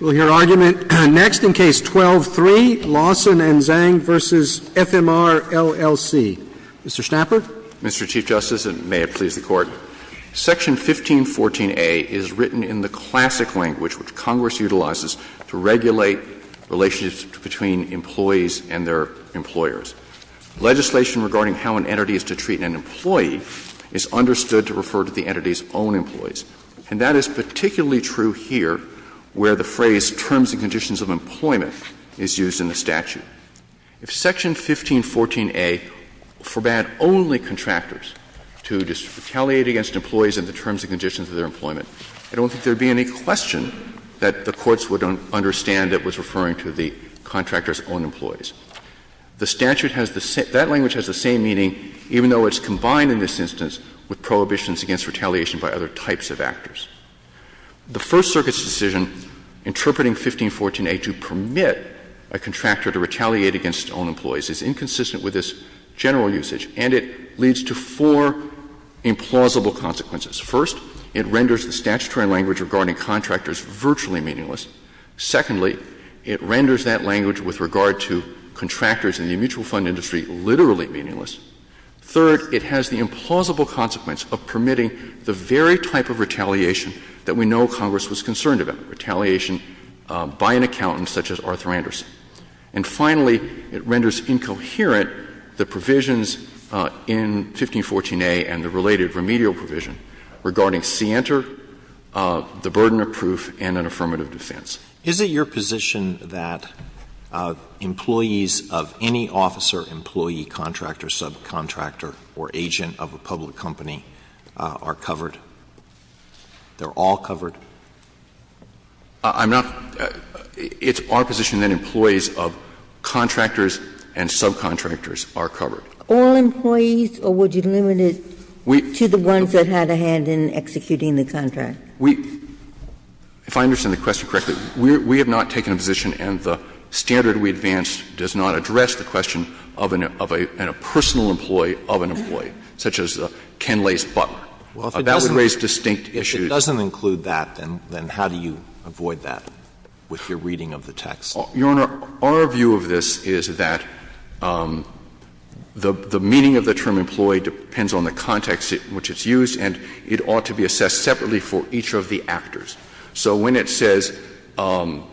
We'll hear argument next in Case 12-3, Lawson v. Zang v. FMR LLC. Mr. Schnapper. Mr. Chief Justice, and may it please the Court, Section 1514a is written in the classic language which Congress utilizes to regulate relations between employees and their employers. Legislation regarding how an entity is to treat an employee is understood to refer to the entity's own employees. And that is particularly true here, where the phrase ''terms and conditions of employment'' is used in the statute. If Section 1514a forbade only contractors to retaliate against employees in the terms and conditions of their employment, I don't think there would be any question that the courts would understand it was referring to the contractor's own employees. The statute has the same — that language has the same meaning, even though it's The First Circuit's decision interpreting 1514a to permit a contractor to retaliate against its own employees is inconsistent with its general usage, and it leads to four implausible consequences. First, it renders the statutory language regarding contractors virtually meaningless. Secondly, it renders that language with regard to contractors in the mutual fund industry literally meaningless. Third, it has the implausible consequence of permitting the very type of retaliation that we know Congress was concerned about, retaliation by an accountant such as Arthur Anderson. And finally, it renders incoherent the provisions in 1514a and the related remedial provision regarding scienter, the burden of proof, and an affirmative defense. Is it your position that employees of any officer, employee, contractor, subcontractor, or agent of a public company are covered? They're all covered? I'm not — it's our position that employees of contractors and subcontractors are covered. All employees, or would you limit it to the ones that had a hand in executing the contract? We — if I understand the question correctly, we have not taken a position, and the standard we advanced does not address the question of a personal employee of an employee, such as Ken Lace Butler. That would raise distinct issues. Well, if it doesn't include that, then how do you avoid that with your reading of the text? Your Honor, our view of this is that the meaning of the term employee depends on the context in which it's used, and it ought to be assessed separately for each of the actors. So when it says no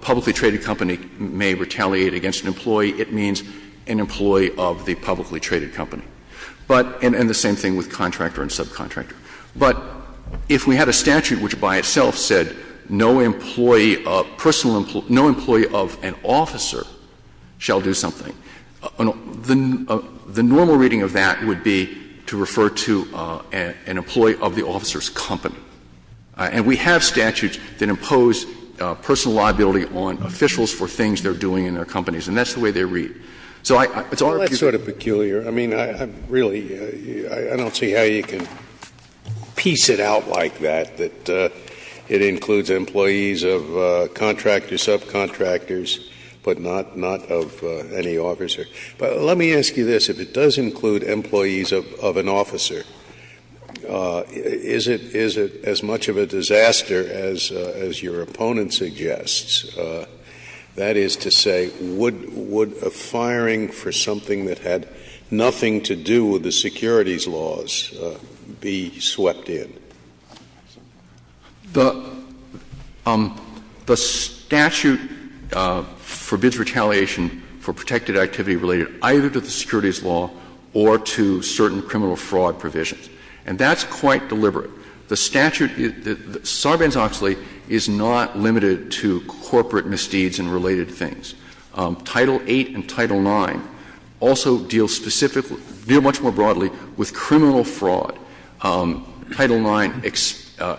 publicly traded company may retaliate against an employee, it means an employee of the publicly traded company. But — and the same thing with contractor and subcontractor. But if we had a statute which by itself said no employee of personal — no employee of an officer shall do something, the normal reading of that would be to refer to an employee of the officer's company. And we have statutes that impose personal liability on officials for things they're doing in their companies, and that's the way they read. So it's our view that — Well, that's sort of peculiar. I mean, I'm really — I don't see how you can piece it out like that, that it includes employees of contractor, subcontractors, but not of any officer. But let me ask you this. If it does include employees of an officer, is it as much of a disaster as your opponent suggests? That is to say, would a firing for something that had nothing to do with the securities laws be swept in? The statute forbids retaliation for protected activity related either to the securities law or to certain criminal fraud provisions. And that's quite deliberate. The statute — Sarbanes-Oxley is not limited to corporate misdeeds and related things. Title VIII and Title IX also deal specifically — deal much more broadly with criminal fraud. Title IX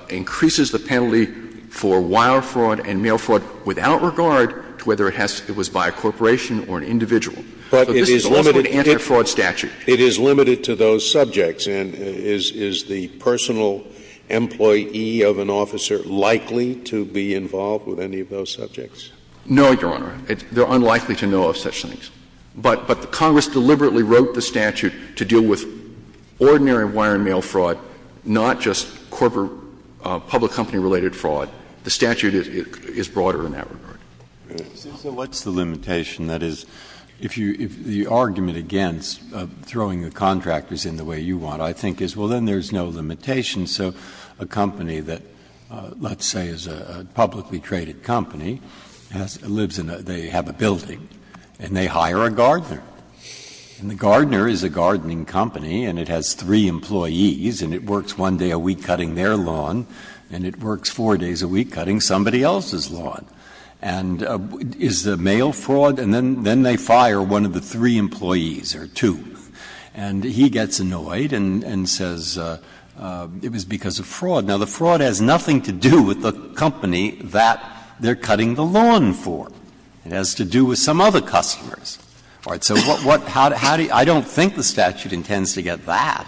increases the penalty for wire fraud and mail fraud without regard to whether it has — it was by a corporation or an individual. So this is a less limited anti-fraud statute. But it is limited to those subjects. And is the personal employee of an officer likely to be involved with any of those subjects? No, Your Honor. They're unlikely to know of such things. But the Congress deliberately wrote the statute to deal with ordinary wire and mail fraud, not just corporate public company-related fraud. The statute is broader in that regard. Breyer. So what's the limitation? That is, if you — the argument against throwing the contractors in the way you want, I think is, well, then there's no limitation. So a company that, let's say, is a publicly traded company, lives in a — they have a building, and they hire a gardener. And the gardener is a gardening company, and it has three employees, and it works one day a week cutting their lawn, and it works four days a week cutting somebody else's lawn. And is the mail fraud? And then they fire one of the three employees or two. And he gets annoyed and says it was because of fraud. Now, the fraud has nothing to do with the company that they're cutting the lawn for. It has to do with some other customers. All right. So what — how do you — I don't think the statute intends to get that.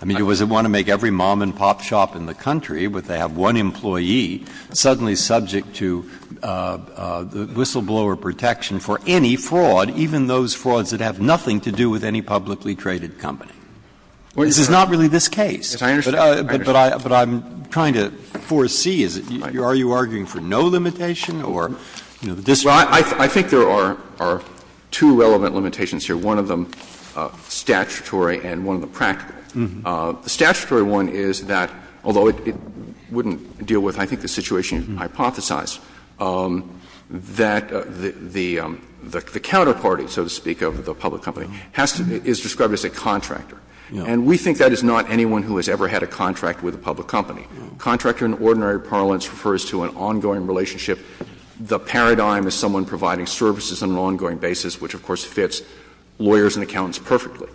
I mean, does it want to make every mom-and-pop shop in the country, where they have one employee, suddenly subject to whistleblower protection for any fraud, even those frauds that have nothing to do with any publicly traded company? This is not really this case. But I'm trying to foresee, is it — are you arguing for no limitation or, you know, this — Well, I think there are two relevant limitations here, one of them statutory and one of them practical. The statutory one is that, although it wouldn't deal with, I think, the situation hypothesized, that the counterparty, so to speak, of the public company has to be — is described as a contractor. And we think that is not anyone who has ever had a contract with a public company. Contractor, in ordinary parlance, refers to an ongoing relationship. The paradigm is someone providing services on an ongoing basis, which, of course, fits lawyers and accountants perfectly.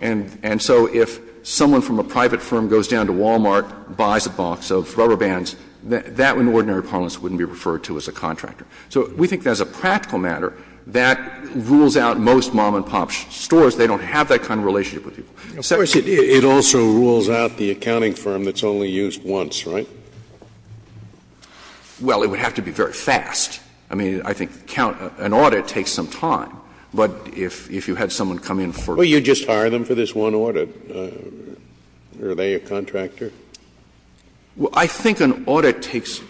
And so if someone from a private firm goes down to Wal-Mart, buys a box of rubber bands, that, in ordinary parlance, wouldn't be referred to as a contractor. So we think that as a practical matter, that rules out most mom-and-pop stores. They don't have that kind of relationship with people. Scalia. Of course, it also rules out the accounting firm that's only used once, right? Well, it would have to be very fast. I mean, I think an audit takes some time. But if you had someone come in for the first time. Well, you just hire them for this one audit. Are they a contractor? Well, I think an audit takes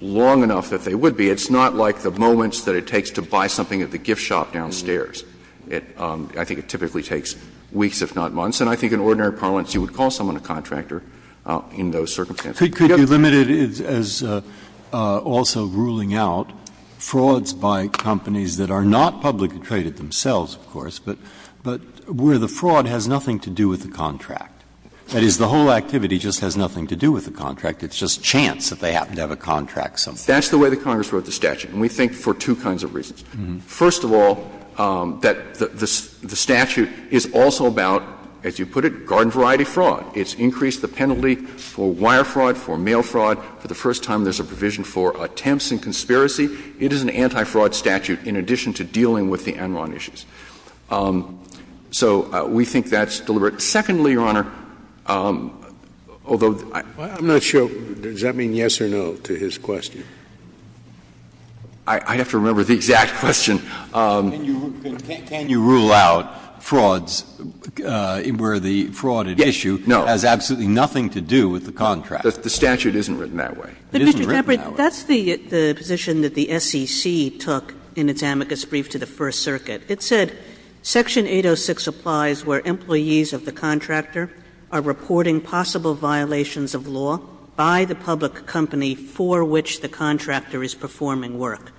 long enough that they would be. It's not like the moments that it takes to buy something at the gift shop downstairs. I think it typically takes weeks, if not months. And I think in ordinary parlance, you would call someone a contractor in those circumstances. Could you limit it as also ruling out frauds by companies that are not publicly traded themselves, of course, but where the fraud has nothing to do with the contract? That is, the whole activity just has nothing to do with the contract. It's just chance that they happen to have a contract somewhere. That's the way that Congress wrote the statute, and we think for two kinds of reasons. First of all, that the statute is also about, as you put it, garden variety fraud. It's increased the penalty for wire fraud, for mail fraud. For the first time, there's a provision for attempts and conspiracy. It is an anti-fraud statute in addition to dealing with the Enron issues. So we think that's deliberate. Secondly, Your Honor, although I'm not sure. Scalia does that mean yes or no to his question? I'd have to remember the exact question. Can you rule out frauds where the fraud is at issue? No. It has absolutely nothing to do with the contract. The statute isn't written that way. It isn't written that way. But, Mr. Caput, that's the position that the SEC took in its amicus brief to the First Circuit. It said section 806 applies where employees of the contractor are reporting possible violations of law by the public company for which the contractor is performing work.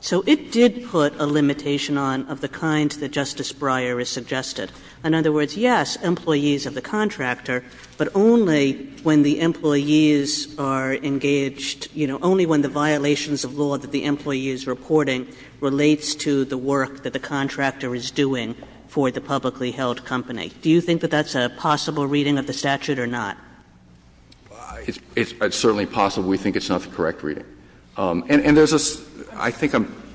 So it did put a limitation on of the kind that Justice Breyer has suggested. In other words, yes, employees of the contractor, but only when the employees are engaged, you know, only when the violations of law that the employee is reporting relates to the work that the contractor is doing for the publicly held company. Do you think that that's a possible reading of the statute or not? It's certainly possible. We think it's not the correct reading. And there's a – I think I'm –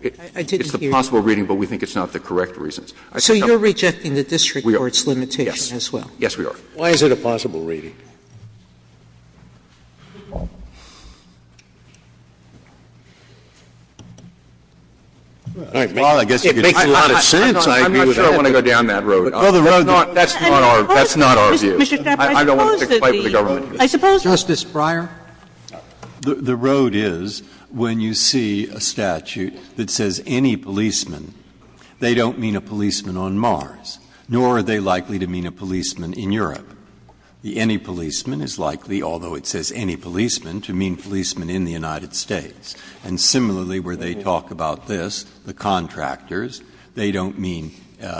it's a possible reading, but we think it's not the correct reasons. So you're rejecting the district court's limitation as well? Yes, we are. Why is it a possible reading? Well, I guess it makes a lot of sense. I agree with that. I'm not sure I want to go down that road. That's not our view. I don't want to fight with the government. I suppose that the – I suppose that the – Justice Breyer. The road is when you see a statute that says any policeman, they don't mean a policeman on Mars, nor are they likely to mean a policeman in Europe. The any policeman is likely, although it says any policeman, to mean policeman in the United States. And similarly, where they talk about this, the contractors, they don't mean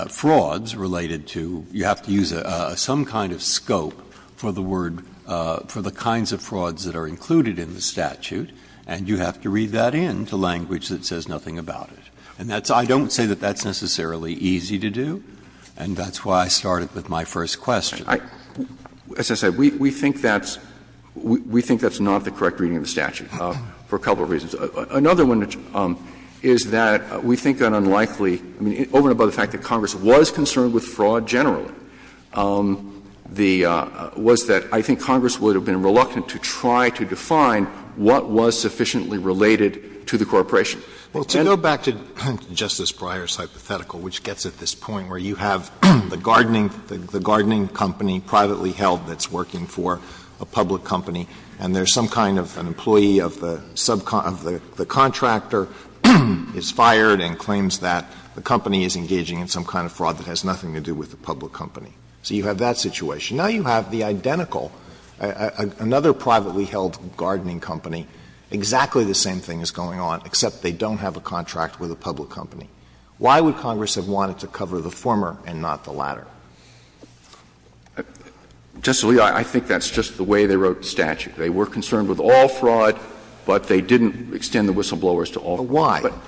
frauds related to – you have to use some kind of scope for the word – for the kinds of frauds that are included in the statute, and you have to read that in to language that says nothing about it. And that's – I don't say that that's necessarily easy to do, and that's why I started with my first question. As I said, we think that's – we think that's not the correct reading of the statute for a couple of reasons. Another one is that we think that unlikely – I mean, over and above the fact that Congress was concerned with fraud generally, the – was that I think Congress would have been reluctant to try to define what was sufficiently related to the corporation. And to go back to Justice Breyer's hypothetical, which gets at this point where you have the gardening – the gardening company privately held that's working for a public company, and there's some kind of an employee of the subcontractor is fired and claims that the company is engaging in some kind of fraud that has nothing to do with the public company. So you have that situation. Now you have the identical, another privately held gardening company, exactly the same thing is going on, except they don't have a contract with a public company. Why would Congress have wanted to cover the former and not the latter? Verrilli, I think that's just the way they wrote the statute. They were concerned with all fraud, but they didn't extend the whistleblowers to all fraud. But why?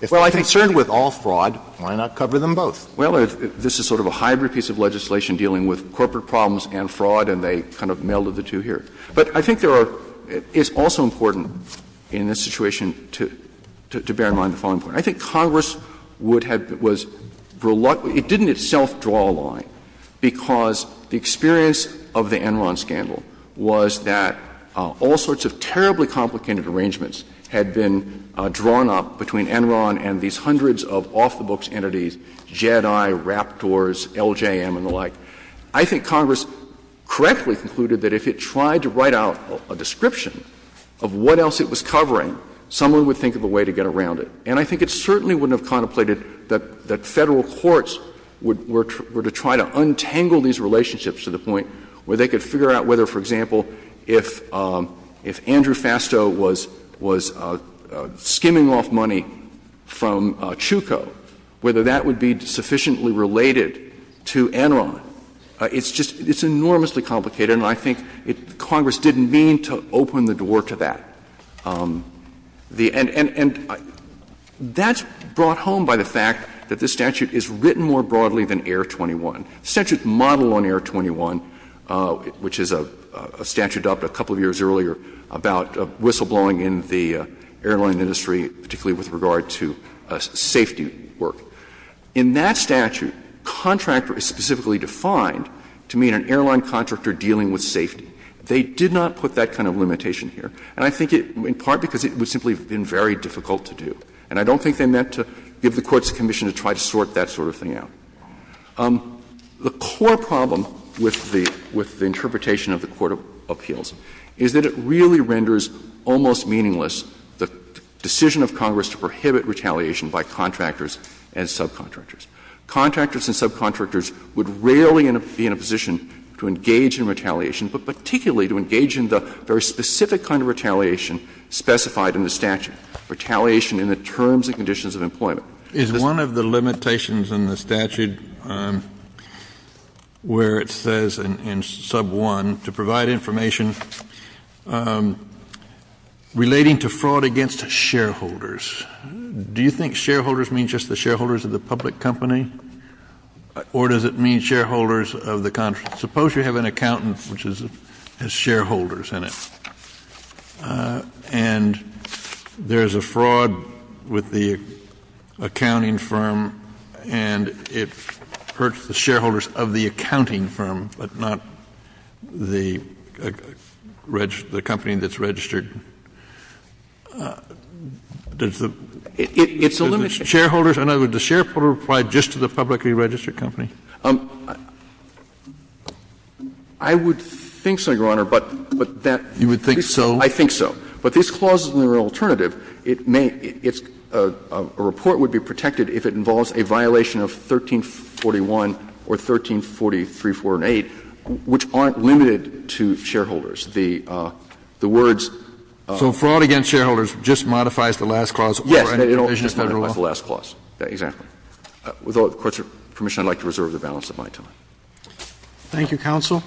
If they're concerned with all fraud, why not cover them both? Well, this is sort of a hybrid piece of legislation dealing with corporate problems and fraud, and they kind of melded the two here. But I think there are – it's also important in this situation to bear in mind the following point. I think Congress would have – was – it didn't itself draw a line because the experience of the Enron scandal was that all sorts of terribly complicated arrangements had been drawn up between Enron and these hundreds of off-the-books entities, Jedi, Raptors, LJM, and the like. I think Congress correctly concluded that if it tried to write out a description of what else it was covering, someone would think of a way to get around it. And I think it certainly wouldn't have contemplated that Federal courts were to try to untangle these relationships to the point where they could figure out whether, for example, if Andrew Fastow was skimming off money from Chucco, whether that would be sufficiently related to Enron. It's just – it's enormously complicated, and I think Congress didn't mean to open the door to that. The – and that's brought home by the fact that this statute is written more broadly than Air 21. The statute modeled on Air 21, which is a statute adopted a couple of years earlier about whistleblowing in the airline industry, particularly with regard to safety work. In that statute, contractor is specifically defined to mean an airline contractor dealing with safety. They did not put that kind of limitation here. And I think it – in part because it would simply have been very difficult to do. And I don't think they meant to give the courts permission to try to sort that sort of thing out. The core problem with the – with the interpretation of the court of appeals is that it really renders almost meaningless the decision of Congress to prohibit retaliation by contractors and subcontractors. Contractors and subcontractors would rarely be in a position to engage in retaliation, but particularly to engage in the very specific kind of retaliation specified in the statute, retaliation in the terms and conditions of employment. Kennedy. Kennedy. Is one of the limitations in the statute where it says in sub 1 to provide information relating to fraud against shareholders, do you think shareholders mean just the shareholders of the public company, or does it mean shareholders of the – suppose you have an accountant which is – has shareholders in it, and there is a fraud with the accounting firm, and it hurts the shareholders of the accounting firm, but not the company that's registered, does the – does the shareholder apply just to the publicly registered company? I would think so, Your Honor, but that's the case. You would think so? I think so. But this clause is an alternative. It may – a report would be protected if it involves a violation of 1341 or 134348, which aren't limited to shareholders. The words of the clause are not limited to shareholders. So fraud against shareholders just modifies the last clause or any provision of Federal law? Yes, it just modifies the last clause, exactly. With all the Court's permission, I would like to reserve the balance of my time. Thank you, counsel.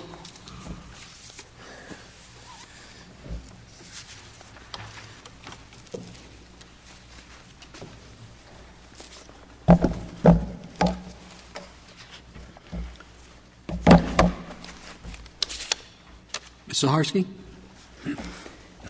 Ms. Zaharsky.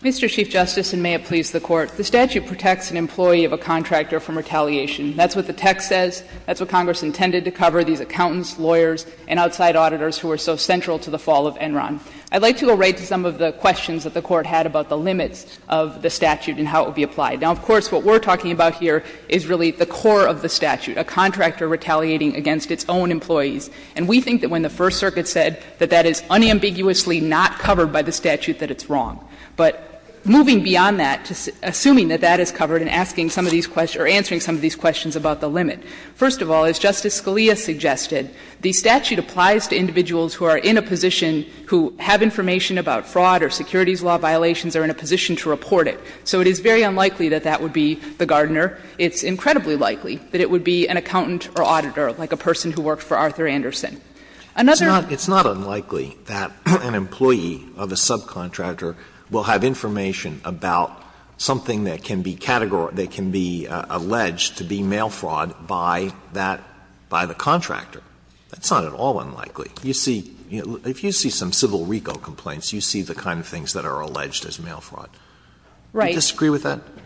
Mr. Chief Justice, and may it please the Court, the statute protects an employee of a contractor from retaliation. That's what the text says. That's what Congress intended to cover, these accountants, lawyers, and outside auditors who are so central to the fall of Enron. I'd like to go right to some of the questions that the Court had about the limits of the statute and how it would be applied. Now, of course, what we're talking about here is really the core of the statute, a contractor retaliating against its own employees. And we think that when the First Circuit said that that is unambiguously not covered by the statute, that it's wrong. But moving beyond that, assuming that that is covered and asking some of these questions or answering some of these questions about the limit, first of all, as Justice Sotomayor said, it's very unlikely that individuals who are in a position who have information about fraud or securities law violations are in a position to report it. So it is very unlikely that that would be the gardener. It's incredibly likely that it would be an accountant or auditor, like a person who worked for Arthur Anderson. Another one. Alitoso It's not unlikely that an employee of a subcontractor will have information about something that can be categorized, that can be alleged to be mail fraud by that by the contractor. That's not at all unlikely. You see, if you see some civil RICO complaints, you see the kind of things that are alleged as mail fraud. Do you disagree with that? Saharsky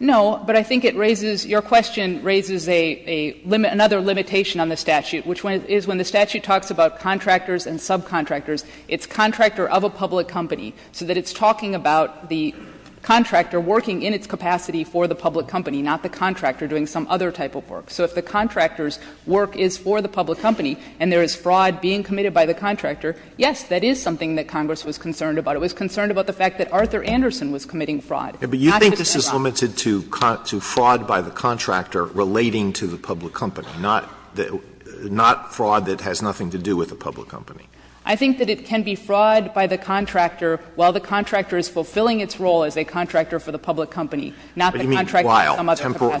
No, but I think it raises, your question raises a limit, another limitation on the statute, which is when the statute talks about contractors and subcontractors, it's contractor of a public company, so that it's talking about the contractor working in its capacity for the public company, not the contractor doing some other type of work. So if the contractor's work is for the public company and there is fraud being committed by the contractor, yes, that is something that Congress was concerned about. It was concerned about the fact that Arthur Anderson was committing fraud. Alitoso But you think this is limited to fraud by the contractor relating to the public company, not fraud that has nothing to do with the public company? Saharsky I think that it can be fraud by the contractor while the contractor is fulfilling its role as a contractor for the public company, not the contractor doing some other type of task. Alitoso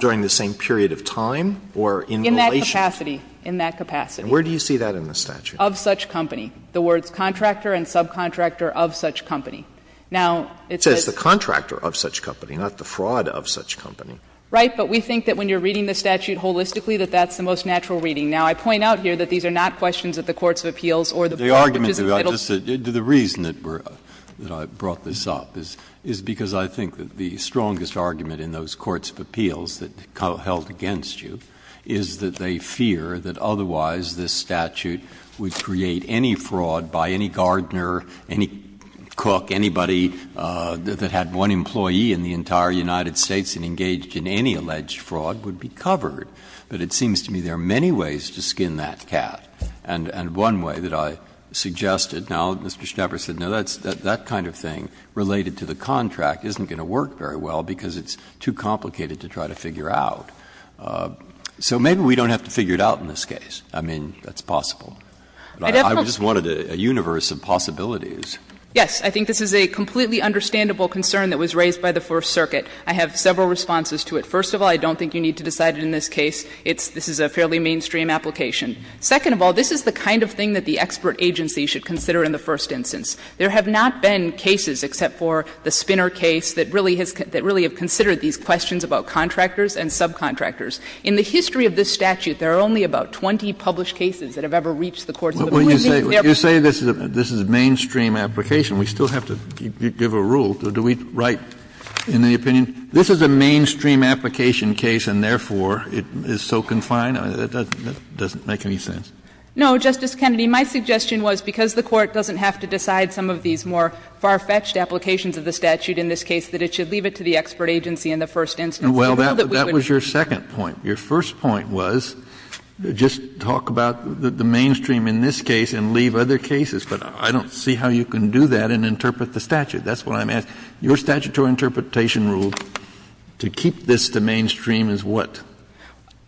In that capacity, in that capacity. Alitoso And where do you see that in the statute? Saharsky Of such company. The words contractor and subcontractor of such company. Now, it's a. Alitoso It says the contractor of such company, not the fraud of such company. Saharsky Right, but we think that when you are reading the statute holistically that that's the most natural reading. Now, I point out here that these are not questions at the courts of appeals or the court which is in the middle. Breyer The argument, the reason that I brought this up is because I think that the is that they fear that otherwise this statute would create any fraud by any gardener, any cook, anybody that had one employee in the entire United States and engaged in any alleged fraud would be covered. But it seems to me there are many ways to skin that cat. And one way that I suggested, now, Mr. Schnepper said, no, that kind of thing related to the contract isn't going to work very well because it's too complicated to try to figure out. So maybe we don't have to figure it out in this case. I mean, that's possible. I just wanted a universe of possibilities. Saharsky Yes. I think this is a completely understandable concern that was raised by the First Circuit. I have several responses to it. First of all, I don't think you need to decide it in this case. It's, this is a fairly mainstream application. Second of all, this is the kind of thing that the expert agency should consider in the first instance. There have not been cases except for the Spinner case that really has, that really have considered these questions about contractors and subcontractors. In the history of this statute, there are only about 20 published cases that have ever reached the court. Kennedy You say this is a mainstream application. We still have to give a rule. Do we write in the opinion, this is a mainstream application case and, therefore, it is so confined? That doesn't make any sense. Saharsky No, Justice Kennedy. My suggestion was because the Court doesn't have to decide some of these more far-fetched applications of the statute in this case, that it should leave it to the expert agency in the first instance. Kennedy Well, that was your second point. Your first point was just talk about the mainstream in this case and leave other cases. But I don't see how you can do that and interpret the statute. That's what I'm asking. Your statutory interpretation rule to keep this to mainstream is what? Saharsky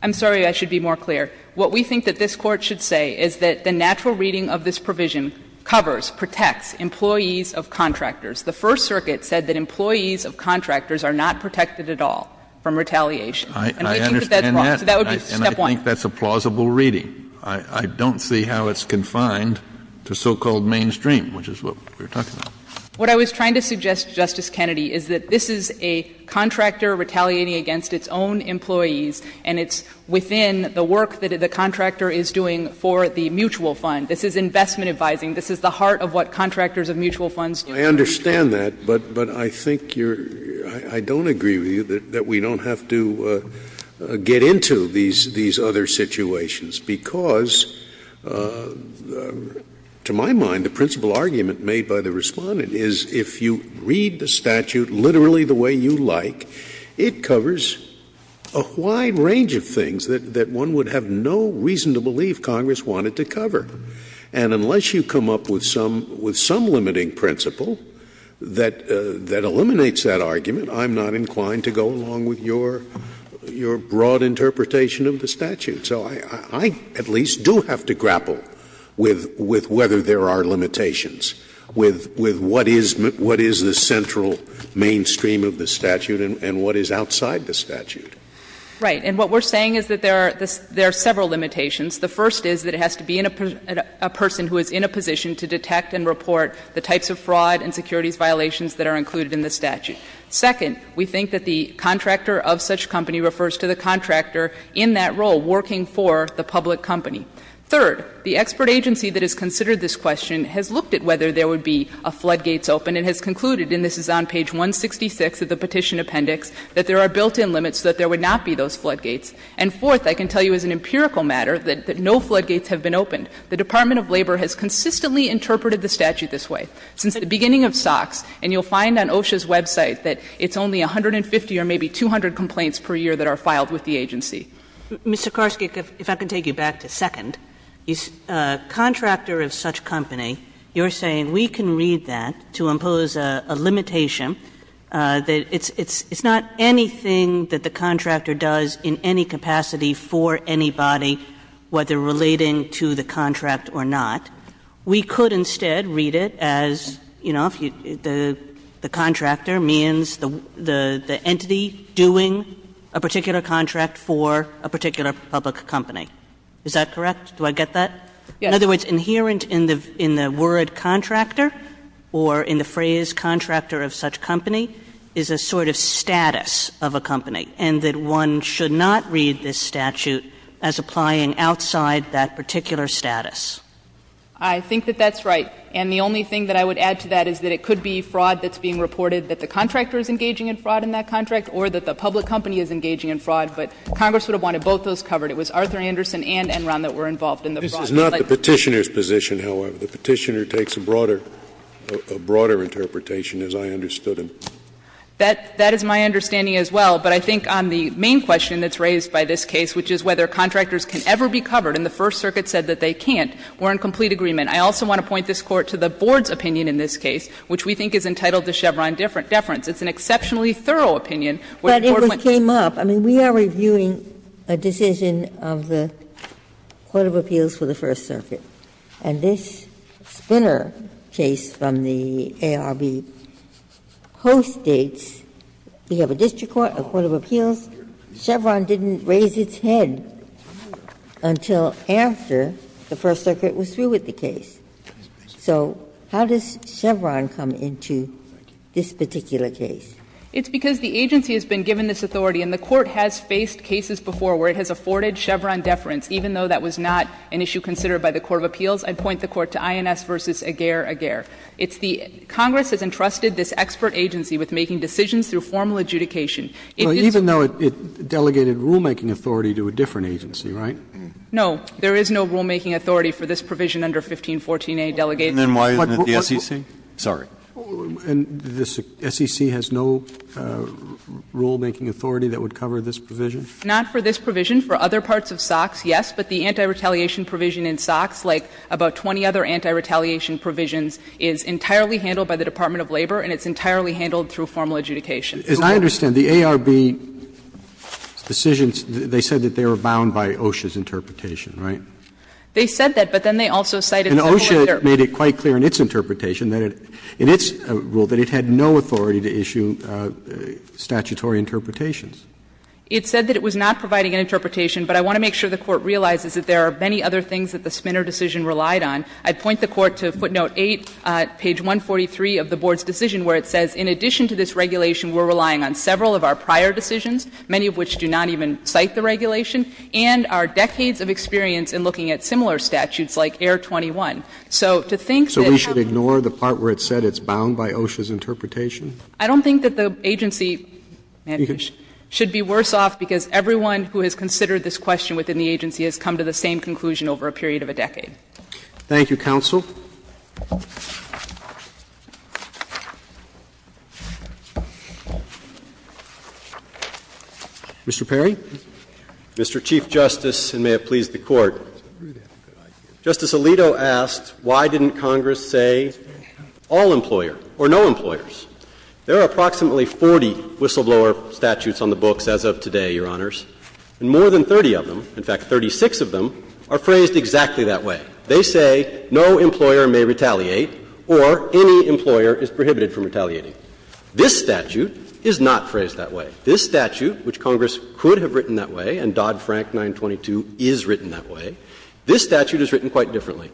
I'm sorry, I should be more clear. What we think that this Court should say is that the natural reading of this provision covers, protects employees of contractors. The First Circuit said that employees of contractors are not protected at all from Kennedy I understand that. Saharsky And we think that that's wrong. So that would be step one. Kennedy And I think that's a plausible reading. I don't see how it's confined to so-called mainstream, which is what we're talking about. Saharsky What I was trying to suggest, Justice Kennedy, is that this is a contractor retaliating against its own employees, and it's within the work that the contractor is doing for the mutual fund. This is investment advising. This is the heart of what contractors of mutual funds do. Scalia I understand that, but I think you're – I don't agree with you that we don't have to get into these other situations, because to my mind, the principal argument made by the Respondent is if you read the statute literally the way you like, it covers a wide range of things that one would have no reason to believe Congress wanted to cover. And unless you come up with some limiting principle that eliminates that argument, I'm not inclined to go along with your broad interpretation of the statute. So I at least do have to grapple with whether there are limitations, with what is the central mainstream of the statute and what is outside the statute. Saharsky Right. And what we're saying is that there are several limitations. The first is that it has to be a person who is in a position to detect and report the types of fraud and securities violations that are included in the statute. Second, we think that the contractor of such company refers to the contractor in that role working for the public company. Third, the expert agency that has considered this question has looked at whether there would be a floodgates open and has concluded, and this is on page 166 of the Petition Appendix, that there are built-in limits so that there would not be those floodgates. And fourth, I can tell you as an empirical matter that no floodgates have been opened. The Department of Labor has consistently interpreted the statute this way. Since the beginning of SOX, and you'll find on OSHA's website that it's only 150 or maybe 200 complaints per year that are filed with the agency. Kagan Mr. Saharsky, if I can take you back to second, a contractor of such company, you're saying we can read that to impose a limitation, that it's not anything that the contractor does in any capacity for anybody, whether relating to the contract or not. We could instead read it as, you know, the contractor means the entity doing a particular contract for a particular public company. Is that correct? Do I get that? In other words, inherent in the word contractor or in the phrase contractor of such a company is a sort of status of a company, and that one should not read this statute as applying outside that particular status. Saharsky I think that that's right. And the only thing that I would add to that is that it could be fraud that's being reported, that the contractor is engaging in fraud in that contract, or that the public company is engaging in fraud. But Congress would have wanted both those covered. It was Arthur Anderson and Enron that were involved in the fraud. Scalia This is not the Petitioner's position, however. The Petitioner takes a broader interpretation, as I understood him. Saharsky That is my understanding as well. But I think on the main question that's raised by this case, which is whether contractors can ever be covered, and the First Circuit said that they can't, we're in complete agreement. I also want to point this Court to the Board's opinion in this case, which we think is entitled to Chevron deference. It's an exceptionally thorough opinion. Ginsburg But it came up. I mean, we are reviewing a decision of the Court of Appeals for the First Circuit. And this Spinner case from the ARB postdates, we have a district court, a court of appeals. Chevron didn't raise its head until after the First Circuit was through with the case. So how does Chevron come into this particular case? Saharsky It's because the agency has been given this authority, and the Court has faced cases before where it has afforded Chevron deference, even though that was not an issue considered by the Court of Appeals. I'd point the Court to INS v. Aguerre-Aguerre. It's the Congress has entrusted this expert agency with making decisions through formal adjudication. Roberts It's even though it delegated rulemaking authority to a different agency, right? Saharsky No. There is no rulemaking authority for this provision under 1514a delegated. Roberts And then why isn't it the SEC? Sorry. Roberts And the SEC has no rulemaking authority that would cover this provision? Saharsky Not for this provision. For other parts of SOX, yes, but the anti-retaliation provision in SOX, like about 20 other anti-retaliation provisions, is entirely handled by the Department of Labor, and it's entirely handled through formal adjudication. Roberts As I understand, the ARB's decisions, they said that they were bound by OSHA's interpretation, right? Saharsky They said that, but then they also cited civil interpretation. Roberts And OSHA made it quite clear in its interpretation that it, in its rule, that it had no authority to issue statutory interpretations. Saharsky It said that it was not providing an interpretation, but I want to make sure the Court realizes that there are many other things that the Spinner decision relied on. I'd point the Court to footnote 8, page 143 of the Board's decision, where it says, in addition to this regulation, we're relying on several of our prior decisions, many of which do not even cite the regulation, and our decades of experience in looking at similar statutes, like Air 21. So to think that how can you say that? Roberts So we should ignore the part where it said it's bound by OSHA's interpretation? Saharsky I don't think that the agency should be worse off, because everyone who has considered this question within the agency has come to the same conclusion over a period of a decade. Roberts Thank you, counsel. Mr. Perry. Perry Mr. Chief Justice, and may it please the Court. Justice Alito asked, why didn't Congress say all employer or no employers? There are approximately 40 whistleblower statutes on the books as of today, Your Honors, and more than 30 of them, in fact 36 of them, are phrased exactly that way. They say no employer may retaliate or any employer is prohibited from retaliating. This statute is not phrased that way. This statute, which Congress could have written that way, and Dodd-Frank 922 is written that way, this statute is written quite differently.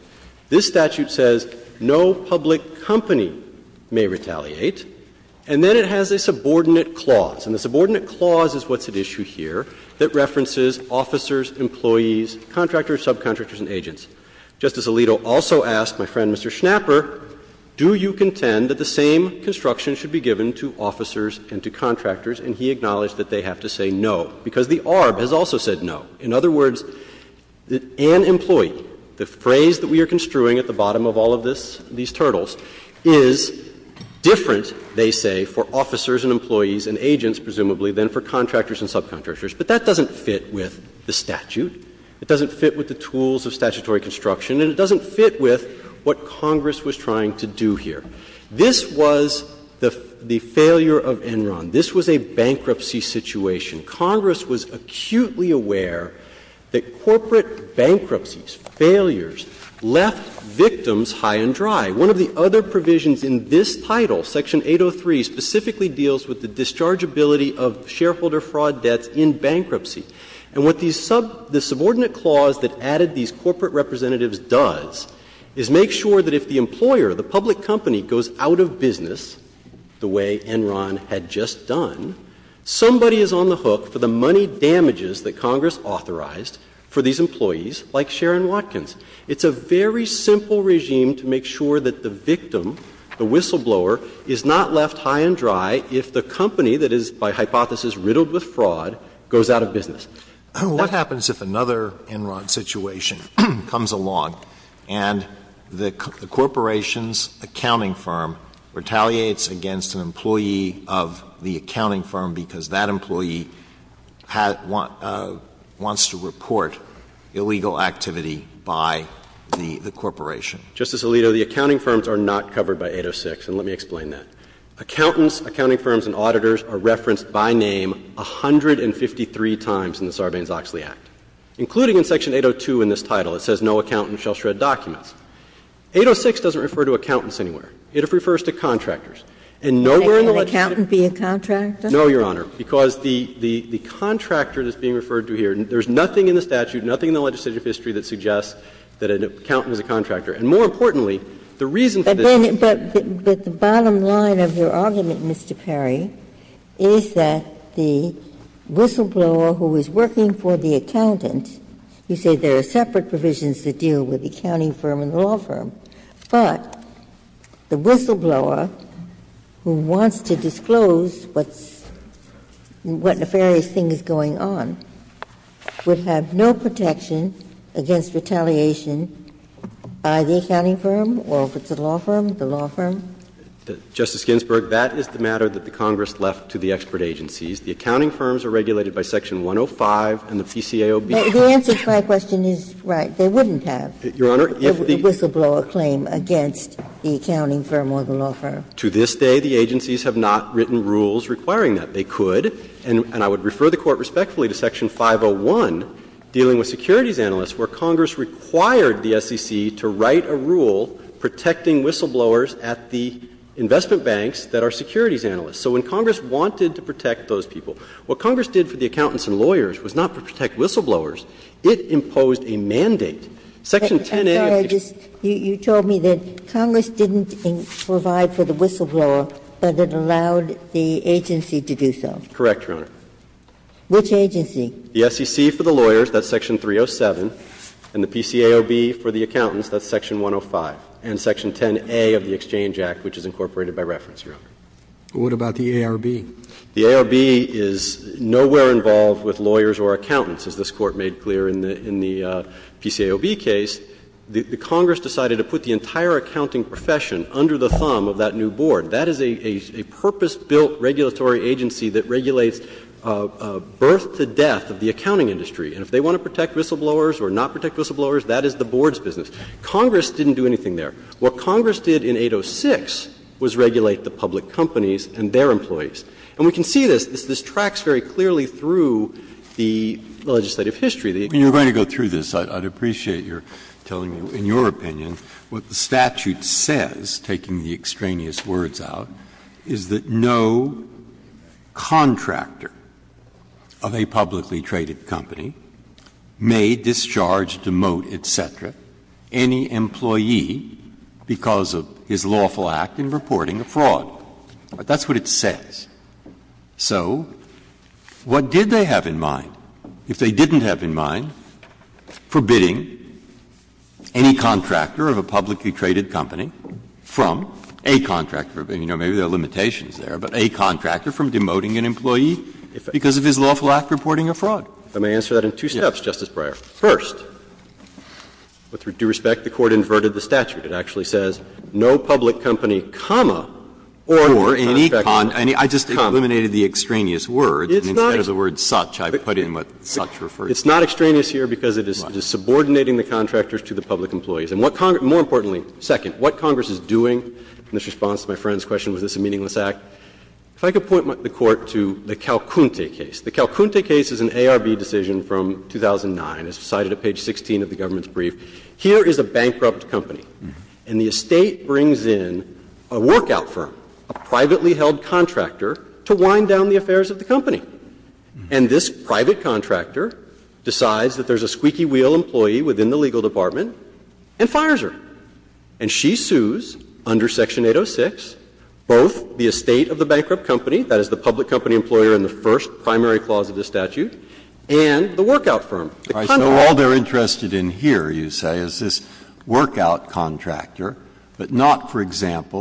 This statute says no public company may retaliate, and then it has a subordinate clause. And the subordinate clause is what's at issue here that references officers, employees, contractors, subcontractors, and agents. Justice Alito also asked my friend Mr. Schnapper, do you contend that the same construction should be given to officers and to contractors, and he acknowledged that they have to say no, because the ARB has also said no. In other words, an employee, the phrase that we are construing at the bottom of all of this, these turtles, is different, they say, for officers and employees and agents, presumably, than for contractors and subcontractors. But that doesn't fit with the statute. It doesn't fit with the tools of statutory construction. And it doesn't fit with what Congress was trying to do here. This was the failure of Enron. This was a bankruptcy situation. Congress was acutely aware that corporate bankruptcies, failures, left victims high and dry. One of the other provisions in this title, section 803, specifically deals with the dischargeability of shareholder fraud debts in bankruptcy. And what the subordinate clause that added these corporate representatives does is make sure that if the employer, the public company, goes out of business the way Enron had just done, somebody is on the hook for the money damages that Congress authorized for these employees, like Sharon Watkins. It's a very simple regime to make sure that the victim, the whistleblower, is not left high and dry if the company that is, by hypothesis, riddled with fraud goes out of business. What happens if another Enron situation comes along and the corporation's accounting firm retaliates against an employee of the accounting firm because that employee wants to report illegal activity by the corporation? Justice Alito, the accounting firms are not covered by 806, and let me explain that. Accountants, accounting firms, and auditors are referenced by name 153 times in the Sarbanes-Oxley Act, including in section 802 in this title. It says no accountant shall shred documents. 806 doesn't refer to accountants anywhere. It refers to contractors. And nowhere in the legislature does it refer to contractors. Ginsburg. Can an accountant be a contractor? No, Your Honor, because the contractor that's being referred to here, there's nothing in the statute, nothing in the legislative history that suggests that an accountant is a contractor. And more importantly, the reason for this is that the whistleblower who is working for the accountant, you say there are separate provisions that deal with the accounting firm and the law firm, but the whistleblower who wants to disclose what's, what nefarious thing is going on, would have no protection against retaliation by the accounting firm or if it's a law firm, the law firm? Justice Ginsburg, that is the matter that the Congress left to the expert agencies. The accounting firms are regulated by section 105 and the PCAOB. The answer to my question is right. They wouldn't have. Whistleblower claim against the accounting firm or the law firm. To this day, the agencies have not written rules requiring that. They could, and I would refer the Court respectfully to section 501 dealing with securities analysts where Congress required the SEC to write a rule protecting whistleblowers at the investment banks that are securities analysts. So when Congress wanted to protect those people, what Congress did for the accountants and lawyers was not to protect whistleblowers, it imposed a mandate. Section 10A of the Exchange Act. I'm sorry. You told me that Congress didn't provide for the whistleblower, but it allowed the agency to do so. Correct, Your Honor. Which agency? The SEC for the lawyers, that's section 307, and the PCAOB for the accountants, that's section 105, and section 10A of the Exchange Act, which is incorporated by reference, Your Honor. What about the ARB? The ARB is nowhere involved with lawyers or accountants, as this Court made clear in the PCAOB case. The Congress decided to put the entire accounting profession under the thumb of that new board. That is a purpose-built regulatory agency that regulates birth to death of the accounting industry. And if they want to protect whistleblowers or not protect whistleblowers, that is the board's business. Congress didn't do anything there. What Congress did in 806 was regulate the public companies and their employees. And we can see this. This tracks very clearly through the legislative history. Breyer. When you're going to go through this, I'd appreciate your telling me, in your opinion, what the statute says, taking the extraneous words out, is that no contractor of a publicly traded company may discharge, demote, et cetera, any employee because of his lawful act in reporting a fraud. That's what it says. So what did they have in mind? If they didn't have in mind forbidding any contractor of a publicly traded company from a contractor, you know, maybe there are limitations there, but a contractor from demoting an employee because of his lawful act reporting a fraud. I may answer that in two steps, Justice Breyer. First, with due respect, the Court inverted the statute. It actually says, no public company, comma, or any contractor, comma. I just eliminated the extraneous words. And instead of the word such, I put in what such refers to. It's not extraneous here because it is subordinating the contractors to the public employees. And what Congress — more importantly, second, what Congress is doing in this response to my friend's question, was this a meaningless act? If I could point the Court to the Calcunte case. The Calcunte case is an ARB decision from 2009. It's cited at page 16 of the government's brief. Here is a bankrupt company, and the estate brings in a workout firm, a privately held contractor, to wind down the affairs of the company. And this private contractor decides that there's a squeaky wheel employee within the legal department and fires her. And she sues, under section 806, both the estate of the bankrupt company, that is, the public company employer in the first primary clause of the statute, and the workout firm. The contract. Breyer. So all they're interested in here, you say, is this workout contractor, but not, for the record,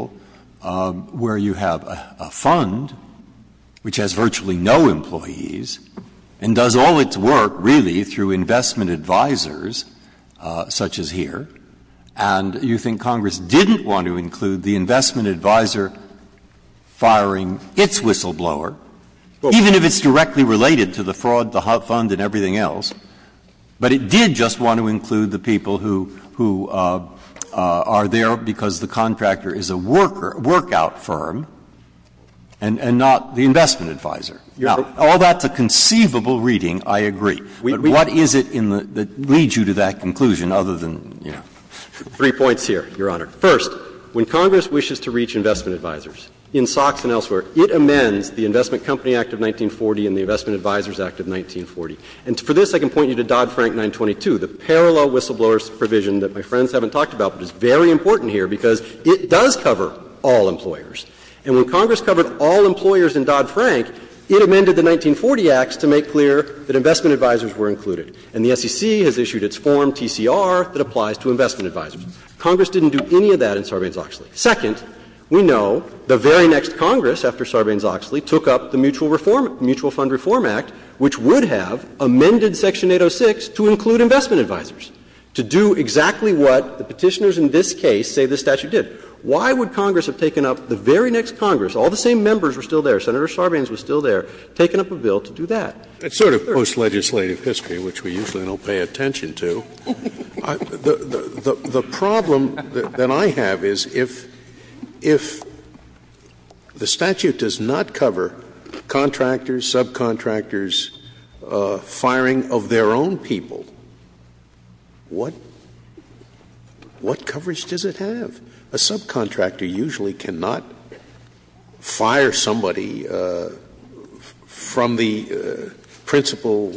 a fund which has virtually no employees and does all its work, really, through investment advisors such as here. And you think Congress didn't want to include the investment advisor firing its whistleblower, even if it's directly related to the fraud, the fund, and everything else, but it did just want to include the people who are there because the contractor is a worker, a workout firm, and not the investment advisor. Now, all that's a conceivable reading, I agree. But what is it in the — that leads you to that conclusion, other than, you know. Three points here, Your Honor. First, when Congress wishes to reach investment advisors in SOX and elsewhere, it amends the Investment Company Act of 1940 and the Investment Advisors Act of 1940. And for this, I can point you to Dodd-Frank 922, the parallel whistleblower provision that my friends haven't talked about, but it's very important here because it does cover all employers. And when Congress covered all employers in Dodd-Frank, it amended the 1940 acts to make clear that investment advisors were included. And the SEC has issued its form, TCR, that applies to investment advisors. Congress didn't do any of that in Sarbanes-Oxley. Second, we know the very next Congress, after Sarbanes-Oxley, took up the Mutual Reform — Mutual Fund Reform Act, which would have amended Section 806 to include investment advisors, to do exactly what the Petitioners in this case say this statute did. Why would Congress have taken up the very next Congress, all the same members were still there, Senator Sarbanes was still there, taken up a bill to do that? It's sort of post-legislative history, which we usually don't pay attention to. The problem that I have is if the statute does not cover contractors, subcontractors firing of their own people, what coverage does it have? A subcontractor usually cannot fire somebody from the principal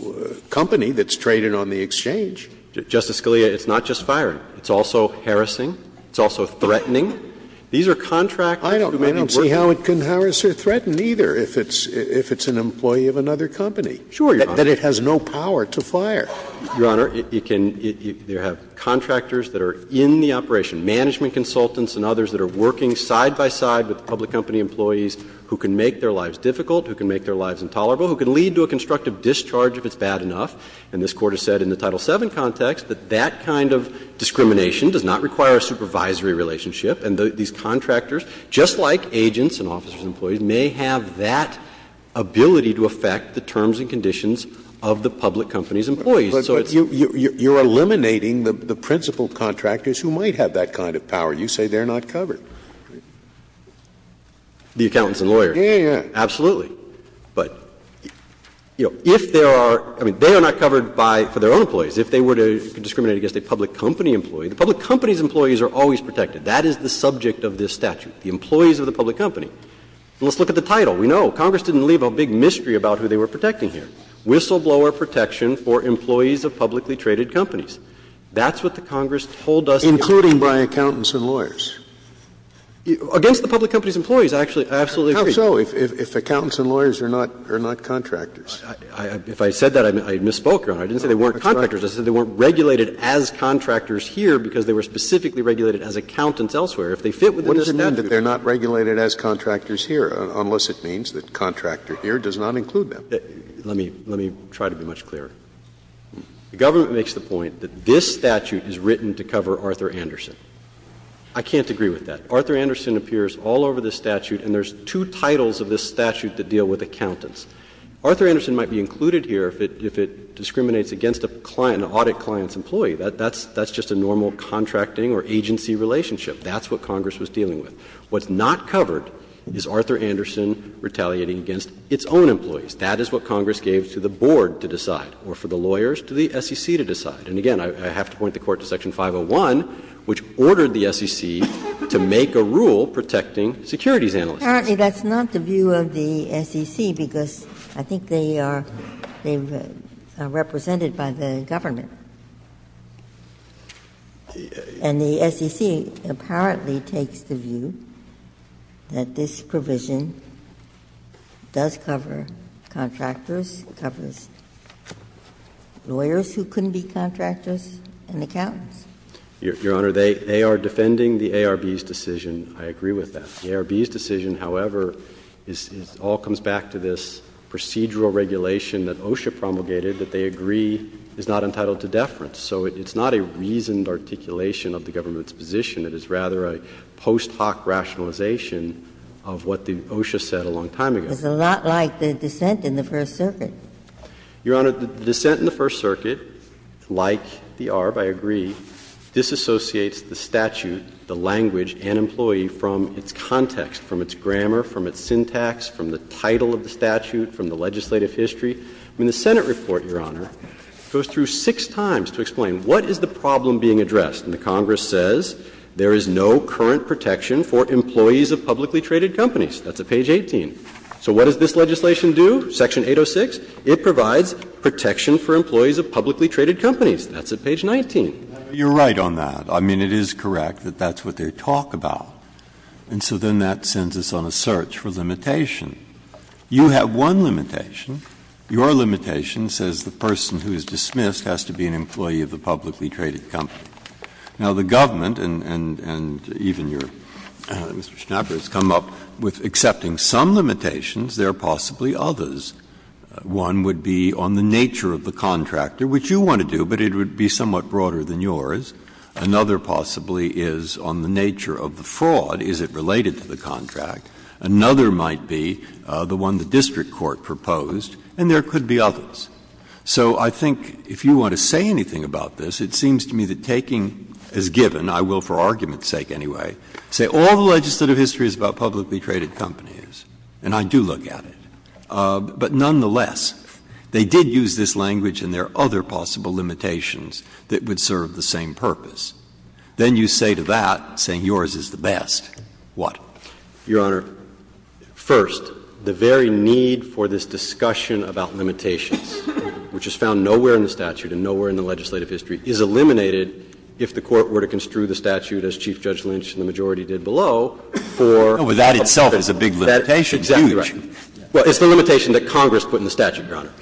company that's traded on the exchange. Justice Scalia, it's not just firing. It's also harassing. It's also threatening. These are contractors who may not be working. I don't see how it can harass or threaten, either, if it's an employee of another company. Sure, Your Honor. That it has no power to fire. Your Honor, it can either have contractors that are in the operation, management consultants and others that are working side by side with public company employees who can make their lives difficult, who can make their lives intolerable, who can lead to a constructive discharge if it's bad enough. And this Court has said in the Title VII context that that kind of discrimination does not require a supervisory relationship. And these contractors, just like agents and officers and employees, may have that ability to affect the terms and conditions of the public company's employees. So it's not. But you're eliminating the principal contractors who might have that kind of power. You say they're not covered. The accountants and lawyers. Yeah, yeah, yeah. Absolutely. But, you know, if there are – I mean, they are not covered by – for their own employees. If they were to discriminate against a public company employee, the public company's employees are always protected. That is the subject of this statute, the employees of the public company. And let's look at the title. We know. Congress didn't leave a big mystery about who they were protecting here. Whistleblower protection for employees of publicly traded companies. That's what the Congress told us. Including by accountants and lawyers? Against the public company's employees, actually. I absolutely agree. How so? If accountants and lawyers are not – are not contractors? If I said that, I misspoke, Your Honor. I didn't say they weren't contractors. I said they weren't regulated as contractors here because they were specifically regulated as accountants elsewhere. If they fit within the statute. I understand that they're not regulated as contractors here, unless it means that contractor here does not include them. Let me – let me try to be much clearer. The government makes the point that this statute is written to cover Arthur Anderson. I can't agree with that. Arthur Anderson appears all over this statute, and there's two titles of this statute that deal with accountants. Arthur Anderson might be included here if it – if it discriminates against a client, an audit client's employee. That's – that's just a normal contracting or agency relationship. That's what Congress was dealing with. What's not covered is Arthur Anderson retaliating against its own employees. That is what Congress gave to the board to decide or for the lawyers to the SEC to decide. And again, I have to point the Court to Section 501, which ordered the SEC to make a rule protecting securities analysts. Apparently, that's not the view of the SEC because I think they are – they are represented by the government. And the SEC apparently takes the view that this provision does cover contractors, covers lawyers who couldn't be contractors, and accountants. Your Honor, they – they are defending the ARB's decision. I agree with that. The ARB's decision, however, is – all comes back to this procedural regulation that OSHA promulgated that they agree is not entitled to deference. So it's not a reasoned articulation of the government's position. It is rather a post hoc rationalization of what the OSHA said a long time ago. It's a lot like the dissent in the First Circuit. Your Honor, the dissent in the First Circuit, like the ARB, I agree, disassociates the statute, the language, and employee from its context, from its grammar, from its The Senate report, Your Honor, goes through six times to explain what is the problem being addressed. And the Congress says there is no current protection for employees of publicly traded companies. That's at page 18. So what does this legislation do? Section 806, it provides protection for employees of publicly traded companies. That's at page 19. You're right on that. I mean, it is correct that that's what they talk about. And so then that sends us on a search for limitation. You have one limitation. Your limitation says the person who is dismissed has to be an employee of the publicly traded company. Now, the government, and even your Mr. Schnapper has come up with accepting some limitations. There are possibly others. One would be on the nature of the contractor, which you want to do, but it would be somewhat broader than yours. Another possibly is on the nature of the fraud. Is it related to the contract? Another might be the one the district court proposed, and there could be others. So I think if you want to say anything about this, it seems to me that taking as given, I will for argument's sake anyway, say all the legislative history is about publicly traded companies, and I do look at it. But nonetheless, they did use this language and there are other possible limitations that would serve the same purpose. Then you say to that, saying yours is the best, what? Your Honor, first, the very need for this discussion about limitations, which is found nowhere in the statute and nowhere in the legislative history, is eliminated if the Court were to construe the statute, as Chief Judge Lynch and the majority did below, for a public company. But that itself is a big limitation. Exactly right. Well, it's the limitation that Congress put in the statute, Your Honor.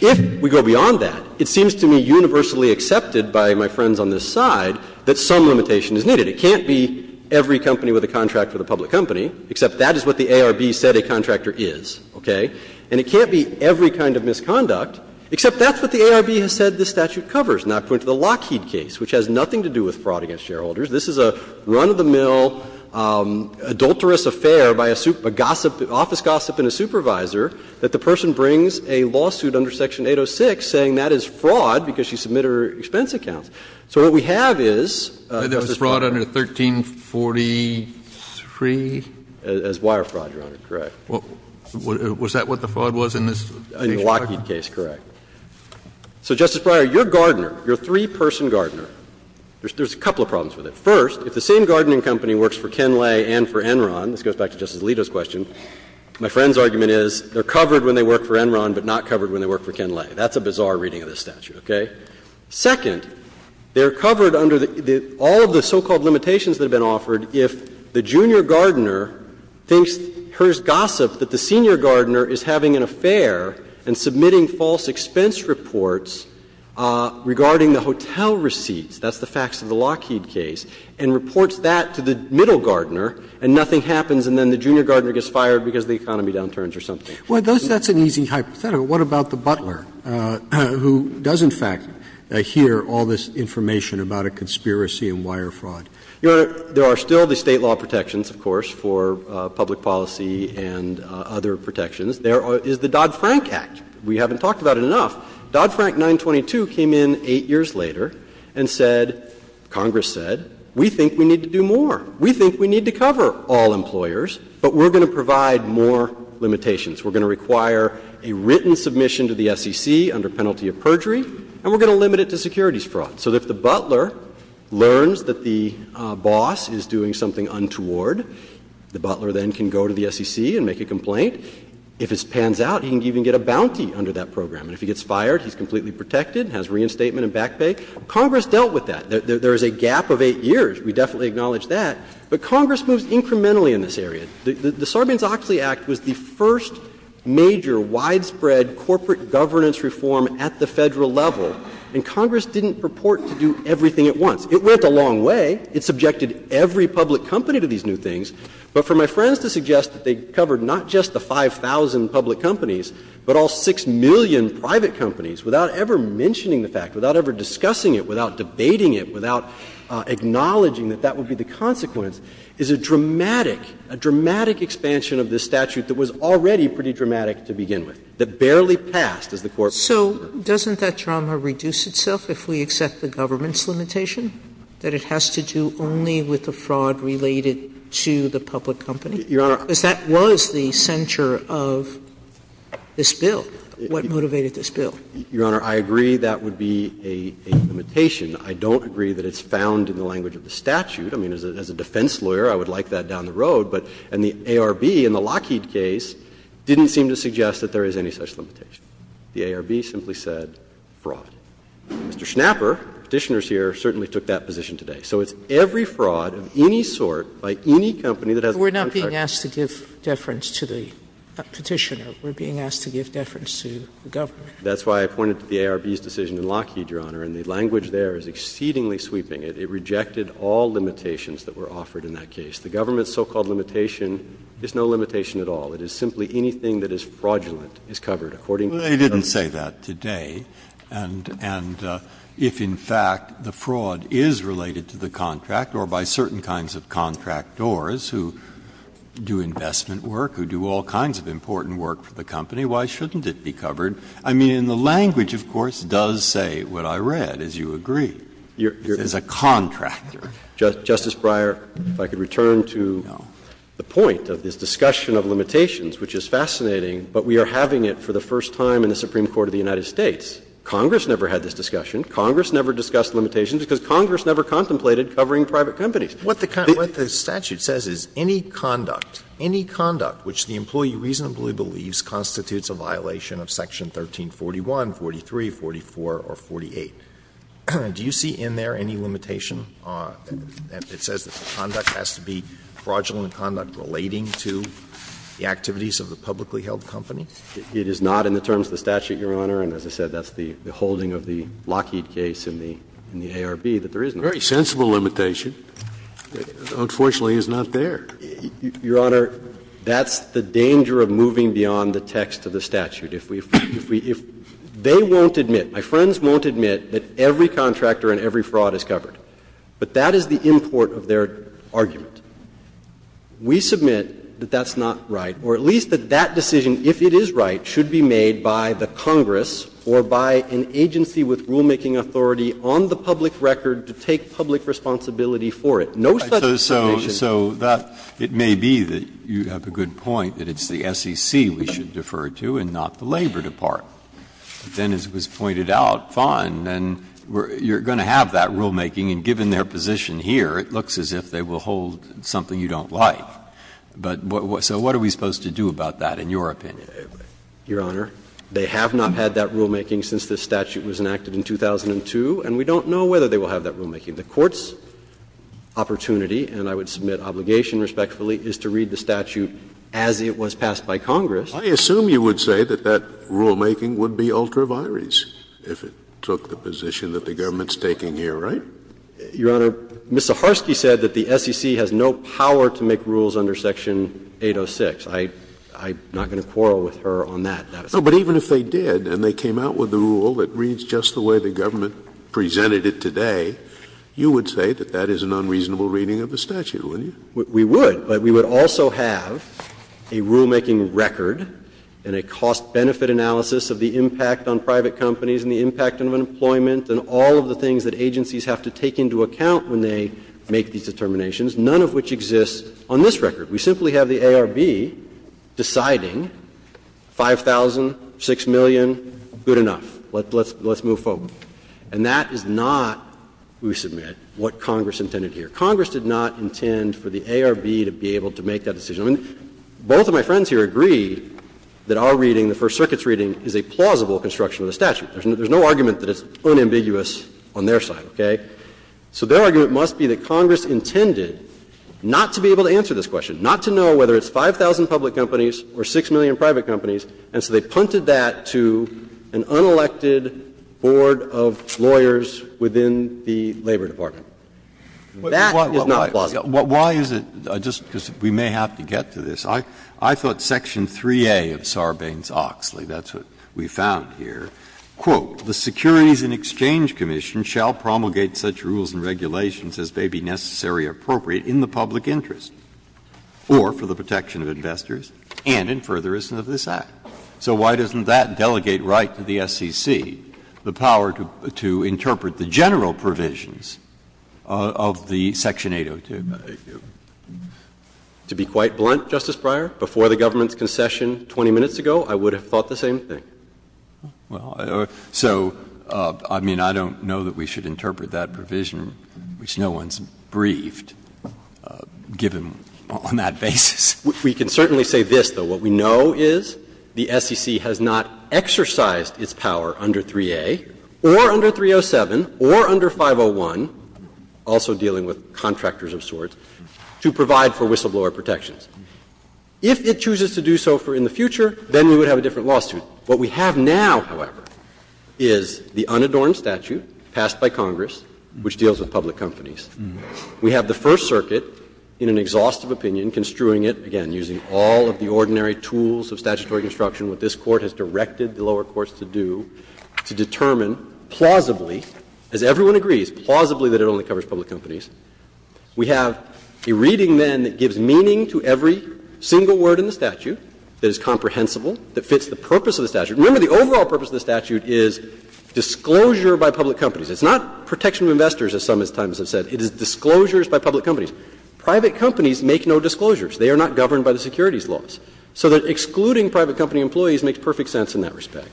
If we go beyond that, it seems to me universally accepted by my friends on this side that some limitation is needed. It can't be every company with a contract for the public company, except that is what the ARB said a contractor is, okay? And it can't be every kind of misconduct, except that's what the ARB has said this statute covers. And I'll point to the Lockheed case, which has nothing to do with fraud against shareholders. This is a run-of-the-mill, adulterous affair by a gossip, office gossip in a supervisor that the person brings a lawsuit under Section 806 saying that is fraud because she submitted her expense account. So what we have is, Justice Breyer. 1343? As wire fraud, Your Honor, correct. Was that what the fraud was in this case? In the Lockheed case, correct. So, Justice Breyer, your gardener, your three-person gardener, there's a couple of problems with it. First, if the same gardening company works for Kenlay and for Enron, this goes back to Justice Alito's question, my friend's argument is they're covered when they work for Enron, but not covered when they work for Kenlay. That's a bizarre reading of this statute, okay? Second, they're covered under the all of the so-called limitations that have been offered if the junior gardener hears gossip that the senior gardener is having an affair and submitting false expense reports regarding the hotel receipts, that's the facts of the Lockheed case, and reports that to the middle gardener and nothing happens and then the junior gardener gets fired because the economy downturns or something. Well, that's an easy hypothetical. What about the butler, who does in fact hear all this information about a conspiracy and wire fraud? Your Honor, there are still the State law protections, of course, for public policy and other protections. There is the Dodd-Frank Act. We haven't talked about it enough. Dodd-Frank 922 came in 8 years later and said, Congress said, we think we need to do a written submission to the SEC under penalty of perjury and we're going to limit it to securities fraud. So if the butler learns that the boss is doing something untoward, the butler then can go to the SEC and make a complaint. If it pans out, he can even get a bounty under that program. And if he gets fired, he's completely protected, has reinstatement and back pay. Congress dealt with that. There is a gap of 8 years. We definitely acknowledge that. But Congress moves incrementally in this area. The Sarbanes-Oxley Act was the first major widespread corporate governance reform at the Federal level. And Congress didn't purport to do everything at once. It went a long way. It subjected every public company to these new things. But for my friends to suggest that they covered not just the 5,000 public companies, but all 6 million private companies, without ever mentioning the fact, without ever discussing it, without debating it, without acknowledging that that would be the most dramatic expansion of this statute that was already pretty dramatic to begin with, that barely passed as the Court referred to. Sotomayor So doesn't that drama reduce itself if we accept the government's limitation, that it has to do only with the fraud related to the public company? Because that was the center of this bill. What motivated this bill? Your Honor, I agree that would be a limitation. I don't agree that it's found in the language of the statute. I mean, as a defense lawyer, I would like that down the road. And the ARB in the Lockheed case didn't seem to suggest that there is any such limitation. The ARB simply said fraud. Mr. Schnapper, Petitioner's here, certainly took that position today. So it's every fraud of any sort by any company that has a contract. Sotomayor We're not being asked to give deference to the Petitioner. We're being asked to give deference to the government. That's why I pointed to the ARB's decision in Lockheed, Your Honor. And the language there is exceedingly sweeping. It rejected all limitations that were offered in that case. The government's so-called limitation is no limitation at all. It is simply anything that is fraudulent is covered according to the government. Breyer They didn't say that today. And if, in fact, the fraud is related to the contract or by certain kinds of contractors who do investment work, who do all kinds of important work for the company, why shouldn't it be covered? I mean, and the language, of course, does say what I read, as you agree, is a contractor. Justice Breyer, if I could return to the point of this discussion of limitations, which is fascinating, but we are having it for the first time in the Supreme Court of the United States. Congress never had this discussion. Congress never discussed limitations because Congress never contemplated covering private companies. Alito What the statute says is any conduct, any conduct which the employee reasonably believes constitutes a violation of section 1341, 43, 44, or 48, do you see in there any limitation that it says that the conduct has to be fraudulent conduct relating to the activities of the publicly held company? It is not in the terms of the statute, Your Honor. And as I said, that's the holding of the Lockheed case in the ARB, that there is no limitation. Scalia Very sensible limitation. Unfortunately, it's not there. Your Honor, that's the danger of moving beyond the text of the statute. If we, if we, if they won't admit, my friends won't admit that every contractor and every fraud is covered, but that is the import of their argument. We submit that that's not right, or at least that that decision, if it is right, should be made by the Congress or by an agency with rulemaking authority on the public record to take public responsibility for it. No such determination. Breyer So that, it may be that you have a good point, that it's the SEC we should refer to and not the Labor Department. But then, as was pointed out, fine, then you're going to have that rulemaking. And given their position here, it looks as if they will hold something you don't like. But what, so what are we supposed to do about that, in your opinion? Schnapper Your Honor, they have not had that rulemaking since this statute was enacted in 2002, and we don't know whether they will have that rulemaking. The Court's opportunity, and I would submit obligation respectfully, is to read the statute as it was passed by Congress. Scalia I assume you would say that that rulemaking would be ultra vires if it took the position that the government is taking here, right? Schnapper Your Honor, Ms. Zaharsky said that the SEC has no power to make rules under Section 806. I'm not going to quarrel with her on that. Scalia No, but even if they did and they came out with a rule that reads just the way the government presented it today, you would say that that is an unreasonable reading of the statute, wouldn't you? We would, but we would also have a rulemaking record and a cost-benefit analysis of the impact on private companies and the impact of unemployment and all of the things that agencies have to take into account when they make these determinations, none of which exists on this record. We simply have the ARB deciding 5,000, 6 million, good enough, let's move forward. And that is not, we submit, what Congress intended here. Congress did not intend for the ARB to be able to make that decision. Both of my friends here agree that our reading, the First Circuit's reading, is a plausible construction of the statute. There's no argument that it's unambiguous on their side, okay? So their argument must be that Congress intended not to be able to answer this question, not to know whether it's 5,000 public companies or 6 million private companies, and so they punted that to an unelected board of lawyers within the Labor Department. That is not plausible. Breyer. Why is it, just because we may have to get to this, I thought section 3A of Sarbanes-Oxley, that's what we found here, quote, "'The Securities and Exchange Commission shall promulgate such rules and regulations as may be necessary or appropriate in the public interest, or for the protection of investors, and in furtherance of this Act.'" So why doesn't that delegate right to the SEC the power to interpret the general provisions of the section 802? To be quite blunt, Justice Breyer, before the government's concession 20 minutes ago, I would have thought the same thing. Well, so, I mean, I don't know that we should interpret that provision, which no one's briefed, given on that basis. We can certainly say this, though. What we know is the SEC has not exercised its power under 3A or under 307 or under 501, also dealing with contractors of sorts, to provide for whistleblower protections. If it chooses to do so for in the future, then we would have a different lawsuit. What we have now, however, is the unadorned statute passed by Congress, which deals with public companies. We have the First Circuit, in an exhaustive opinion, construing it, again, using all of the ordinary tools of statutory construction, what this Court has directed the lower courts to do, to determine plausibly, as everyone agrees, plausibly that it only covers public companies. We have a reading, then, that gives meaning to every single word in the statute that is comprehensible, that fits the purpose of the statute. Remember, the overall purpose of the statute is disclosure by public companies. It's not protection of investors, as some, at times, have said. It is disclosures by public companies. Private companies make no disclosures. They are not governed by the securities laws. So that excluding private company employees makes perfect sense in that respect.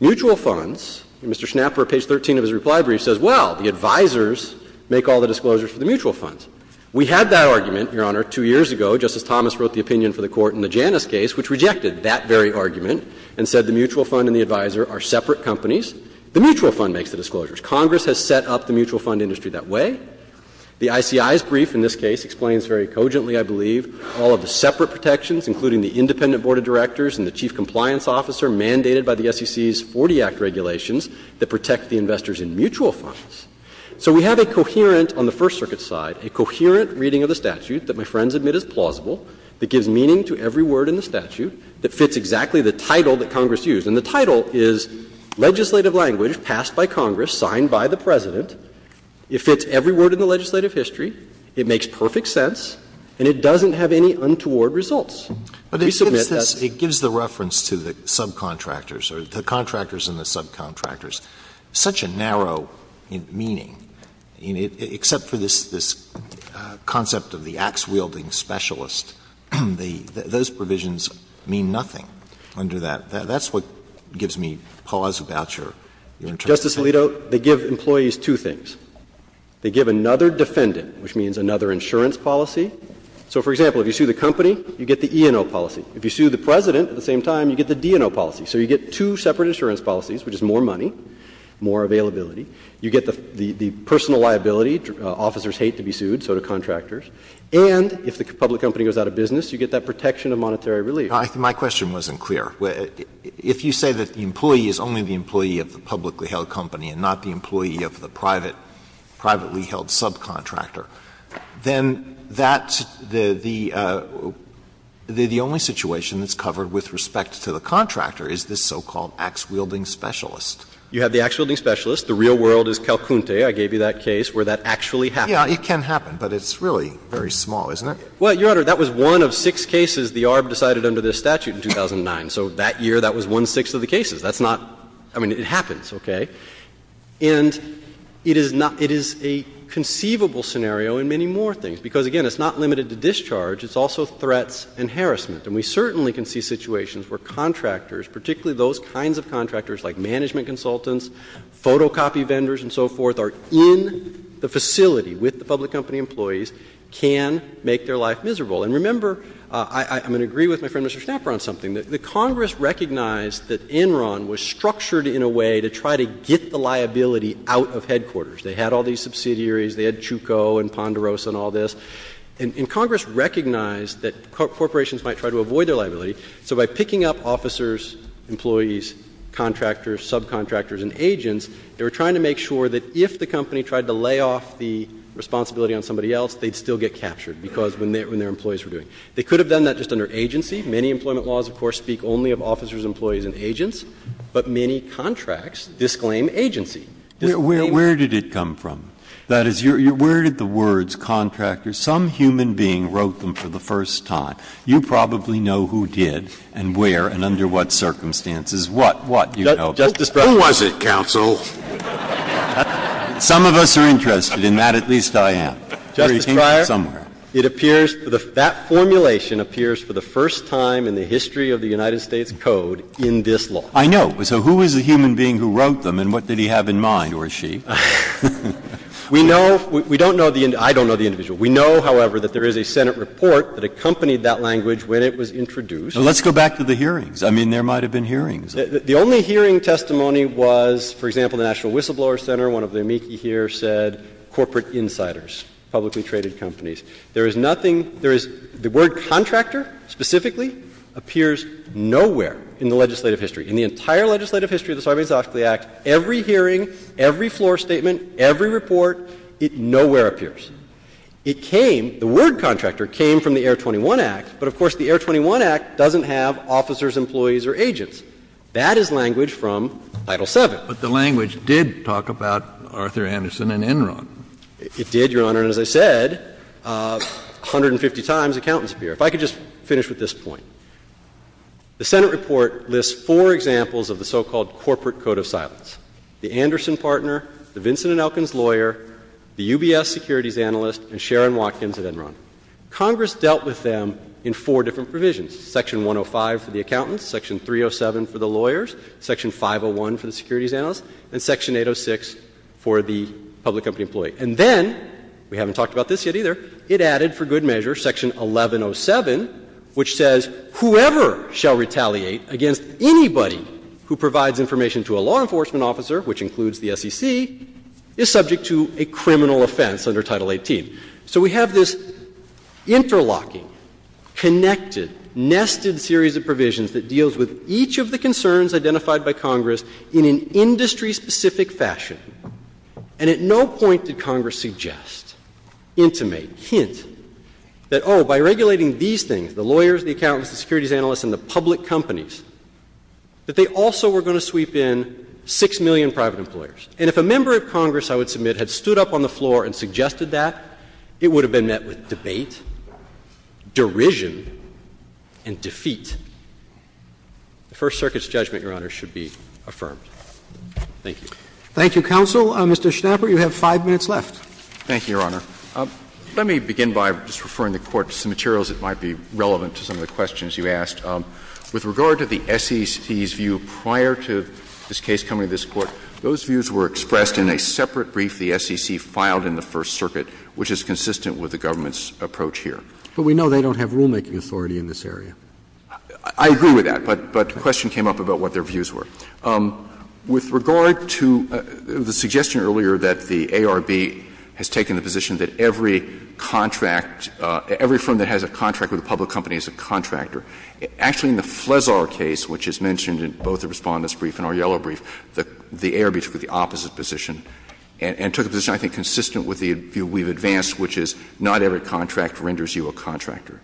Mutual funds, Mr. Schnapper, page 13 of his reply brief, says, well, the advisors make all the disclosures for the mutual funds. We had that argument, Your Honor, two years ago, just as Thomas wrote the opinion for the Court in the Janus case, which rejected that very argument and said the mutual fund and the advisor are separate companies. The mutual fund makes the disclosures. Congress has set up the mutual fund industry that way. The ICI's brief, in this case, explains very cogently, I believe, all of the separate protections, including the independent board of directors and the chief compliance officer mandated by the SEC's 40 Act regulations that protect the investors in mutual funds. So we have a coherent, on the First Circuit's side, a coherent reading of the statute that my friends admit is plausible, that gives meaning to every word in the statute, that fits exactly the title that Congress used. And the title is legislative language passed by Congress, signed by the President. It fits every word in the legislative history. It makes perfect sense. And it doesn't have any untoward results. We submit that's. Alito, they give employees two things. They give another defendant, which means another insurance policy. So, for example, if you sue the company, you get the E&O policy. If you sue the President at the same time, you get the D&O policy. So you get two separate insurance policies, which is more money, more availability. You get the personal liability. Officers hate to be sued, so do contractors. And if the public company goes out of business, you get that protection of monetary relief. Alito, my question wasn't clear. If you say that the employee is only the employee of the publicly held company and not the employee of the private, privately held subcontractor, then that, the only situation that's covered with respect to the contractor is this so-called axe-wielding specialist. You have the axe-wielding specialist. The real world is Calcunte. I gave you that case where that actually happened. Yeah, it can happen, but it's really very small, isn't it? Well, Your Honor, that was one of six cases the ARB decided under this statute in 2009. So that year, that was one-sixth of the cases. That's not — I mean, it happens, okay? And it is not — it is a conceivable scenario in many more things because, again, it's not limited to discharge. It's also threats and harassment. And we certainly can see situations where contractors, particularly those kinds of contractors like management consultants, photocopy vendors and so forth, are in the facility with the public company employees, can make their life miserable. And remember — I'm going to agree with my friend Mr. Schnapper on something. The Congress recognized that Enron was structured in a way to try to get the liability out of headquarters. They had all these subsidiaries. They had Chuko and Ponderosa and all this. And Congress recognized that corporations might try to avoid their liability. So by picking up officers, employees, contractors, subcontractors and agents, they were trying to make sure that if the company tried to lay off the responsibility on somebody else, they'd still get captured because when their employees were doing. They could have done that just under agency. Many employment laws, of course, speak only of officers, employees and agents. But many contracts disclaim agency. Disclaim agency. Breyer. Where did it come from? That is, where did the words contractor, some human being wrote them for the first time? You probably know who did and where and under what circumstances, what, what, you know. Who was it, counsel? Some of us are interested in that. At least I am. Justice Breyer, it appears that formulation appears for the first time. In the history of the United States Code in this law. I know. So who is the human being who wrote them and what did he have in mind or she? We know, we don't know the, I don't know the individual. We know, however, that there is a Senate report that accompanied that language when it was introduced. Let's go back to the hearings. I mean, there might have been hearings. The only hearing testimony was, for example, the National Whistleblower Center, one of the amici here said corporate insiders, publicly traded companies. There is nothing, there is, the word contractor specifically appears nowhere in the legislative history. In the entire legislative history of the Sovereign Executive Act, every hearing, every floor statement, every report, it nowhere appears. It came, the word contractor came from the Air 21 Act, but of course the Air 21 Act doesn't have officers, employees or agents. That is language from Title VII. But the language did talk about Arthur Anderson and Enron. It did, Your Honor. And as I said, 150 times accountants appear. If I could just finish with this point. The Senate report lists four examples of the so-called corporate code of silence. The Anderson partner, the Vincent and Elkins lawyer, the UBS securities analyst, and Sharon Watkins at Enron. Congress dealt with them in four different provisions, section 105 for the accountants, section 307 for the lawyers, section 501 for the securities analyst, and section 806 for the public company employee. And then, we haven't talked about this yet either, it added for good measure section 1107, which says whoever shall retaliate against anybody who provides information to a law enforcement officer, which includes the SEC, is subject to a criminal offense under Title XVIII. So we have this interlocking, connected, nested series of provisions that deals with each of the concerns identified by Congress in an industry-specific fashion. And at no point did Congress suggest, intimate, hint, that, oh, by regulating these things, the lawyers, the accountants, the securities analysts, and the public companies, that they also were going to sweep in 6 million private employers. And if a member of Congress, I would submit, had stood up on the floor and suggested that, it would have been met with debate, derision, and defeat. The First Circuit's judgment, Your Honor, should be affirmed. Thank you. Roberts. Thank you, counsel. Mr. Schnapper, you have 5 minutes left. Thank you, Your Honor. Let me begin by just referring the Court to some materials that might be relevant to some of the questions you asked. With regard to the SEC's view prior to this case coming to this Court, those views were expressed in a separate brief the SEC filed in the First Circuit, which is consistent with the government's approach here. But we know they don't have rulemaking authority in this area. I agree with that, but the question came up about what their views were. With regard to the suggestion earlier that the ARB has taken the position that every contract, every firm that has a contract with a public company is a contractor, actually in the Flesar case, which is mentioned in both the Respondent's brief and our yellow brief, the ARB took the opposite position and took a position I think consistent with the view we've advanced, which is not every contract renders you a contractor.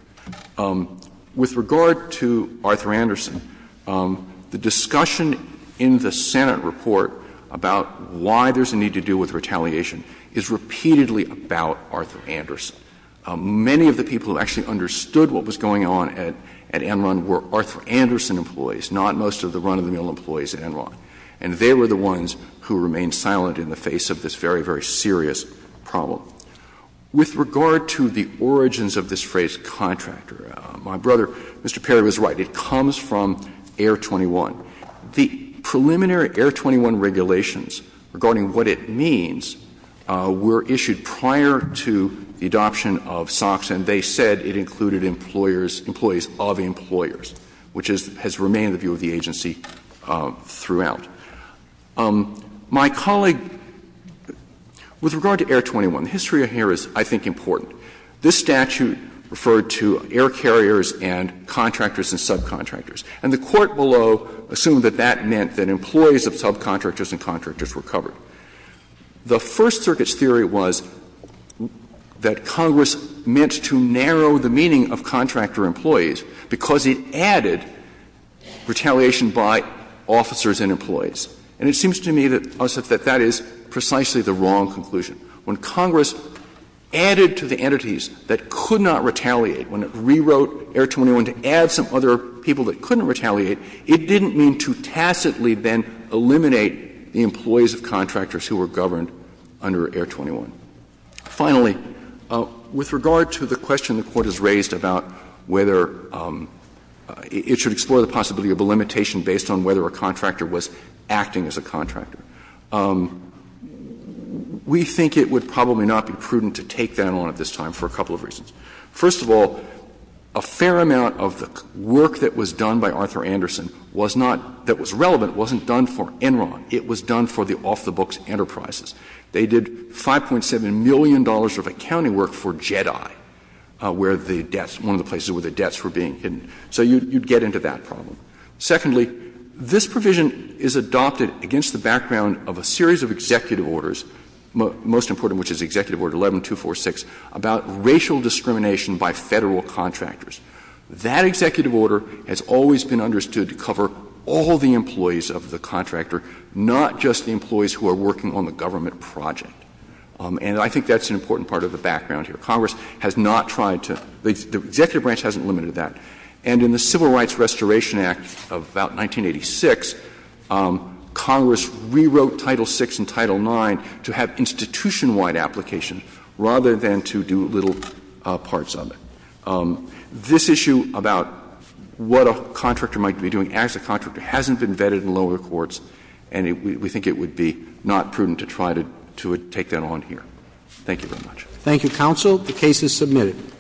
With regard to Arthur Anderson, the discussion in the Senate report about why there's a need to deal with retaliation is repeatedly about Arthur Anderson. Many of the people who actually understood what was going on at Enron were Arthur Anderson employees, not most of the run-of-the-mill employees at Enron. And they were the ones who remained silent in the face of this very, very serious problem. With regard to the origins of this phrase contractor, my brother, Mr. Perry, was right. It comes from Air 21. The preliminary Air 21 regulations regarding what it means were issued prior to the adoption of SOX, and they said it included employers, employees of employers, which has remained the view of the agency throughout. My colleague, with regard to Air 21, the history here is, I think, important. This statute referred to air carriers and contractors and subcontractors. And the Court below assumed that that meant that employees of subcontractors and contractors were covered. The First Circuit's theory was that Congress meant to narrow the meaning of contractor employees because it added retaliation by officers and employees. And it seems to me that that is precisely the wrong conclusion. When Congress added to the entities that could not retaliate, when it rewrote Air 21 to add some other people that couldn't retaliate, it didn't mean to tacitly then eliminate the employees of contractors who were governed under Air 21. Finally, with regard to the question the Court has raised about whether it should explore the possibility of a limitation based on whether a contractor was acting as a contractor, we think it would probably not be prudent to take that on at this time for a couple of reasons. First of all, a fair amount of the work that was done by Arthur Anderson was not — that was relevant wasn't done for Enron. It was done for the off-the-books enterprises. They did $5.7 million of accounting work for JEDI, where the debts — one of the places where the debts were being hidden. So you'd get into that problem. Secondly, this provision is adopted against the background of a series of executive orders, most important of which is Executive Order 11246, about racial discrimination by Federal contractors. That executive order has always been understood to cover all the employees of the contractor not just the employees who are working on the government project. And I think that's an important part of the background here. Congress has not tried to — the executive branch hasn't limited that. And in the Civil Rights Restoration Act of about 1986, Congress rewrote Title VI and Title IX to have institution-wide application rather than to do little parts of it. This issue about what a contractor might be doing as a contractor hasn't been vetted in lower courts, and we think it would be not prudent to try to take that on here. Thank you very much. Thank you, counsel. The case is submitted.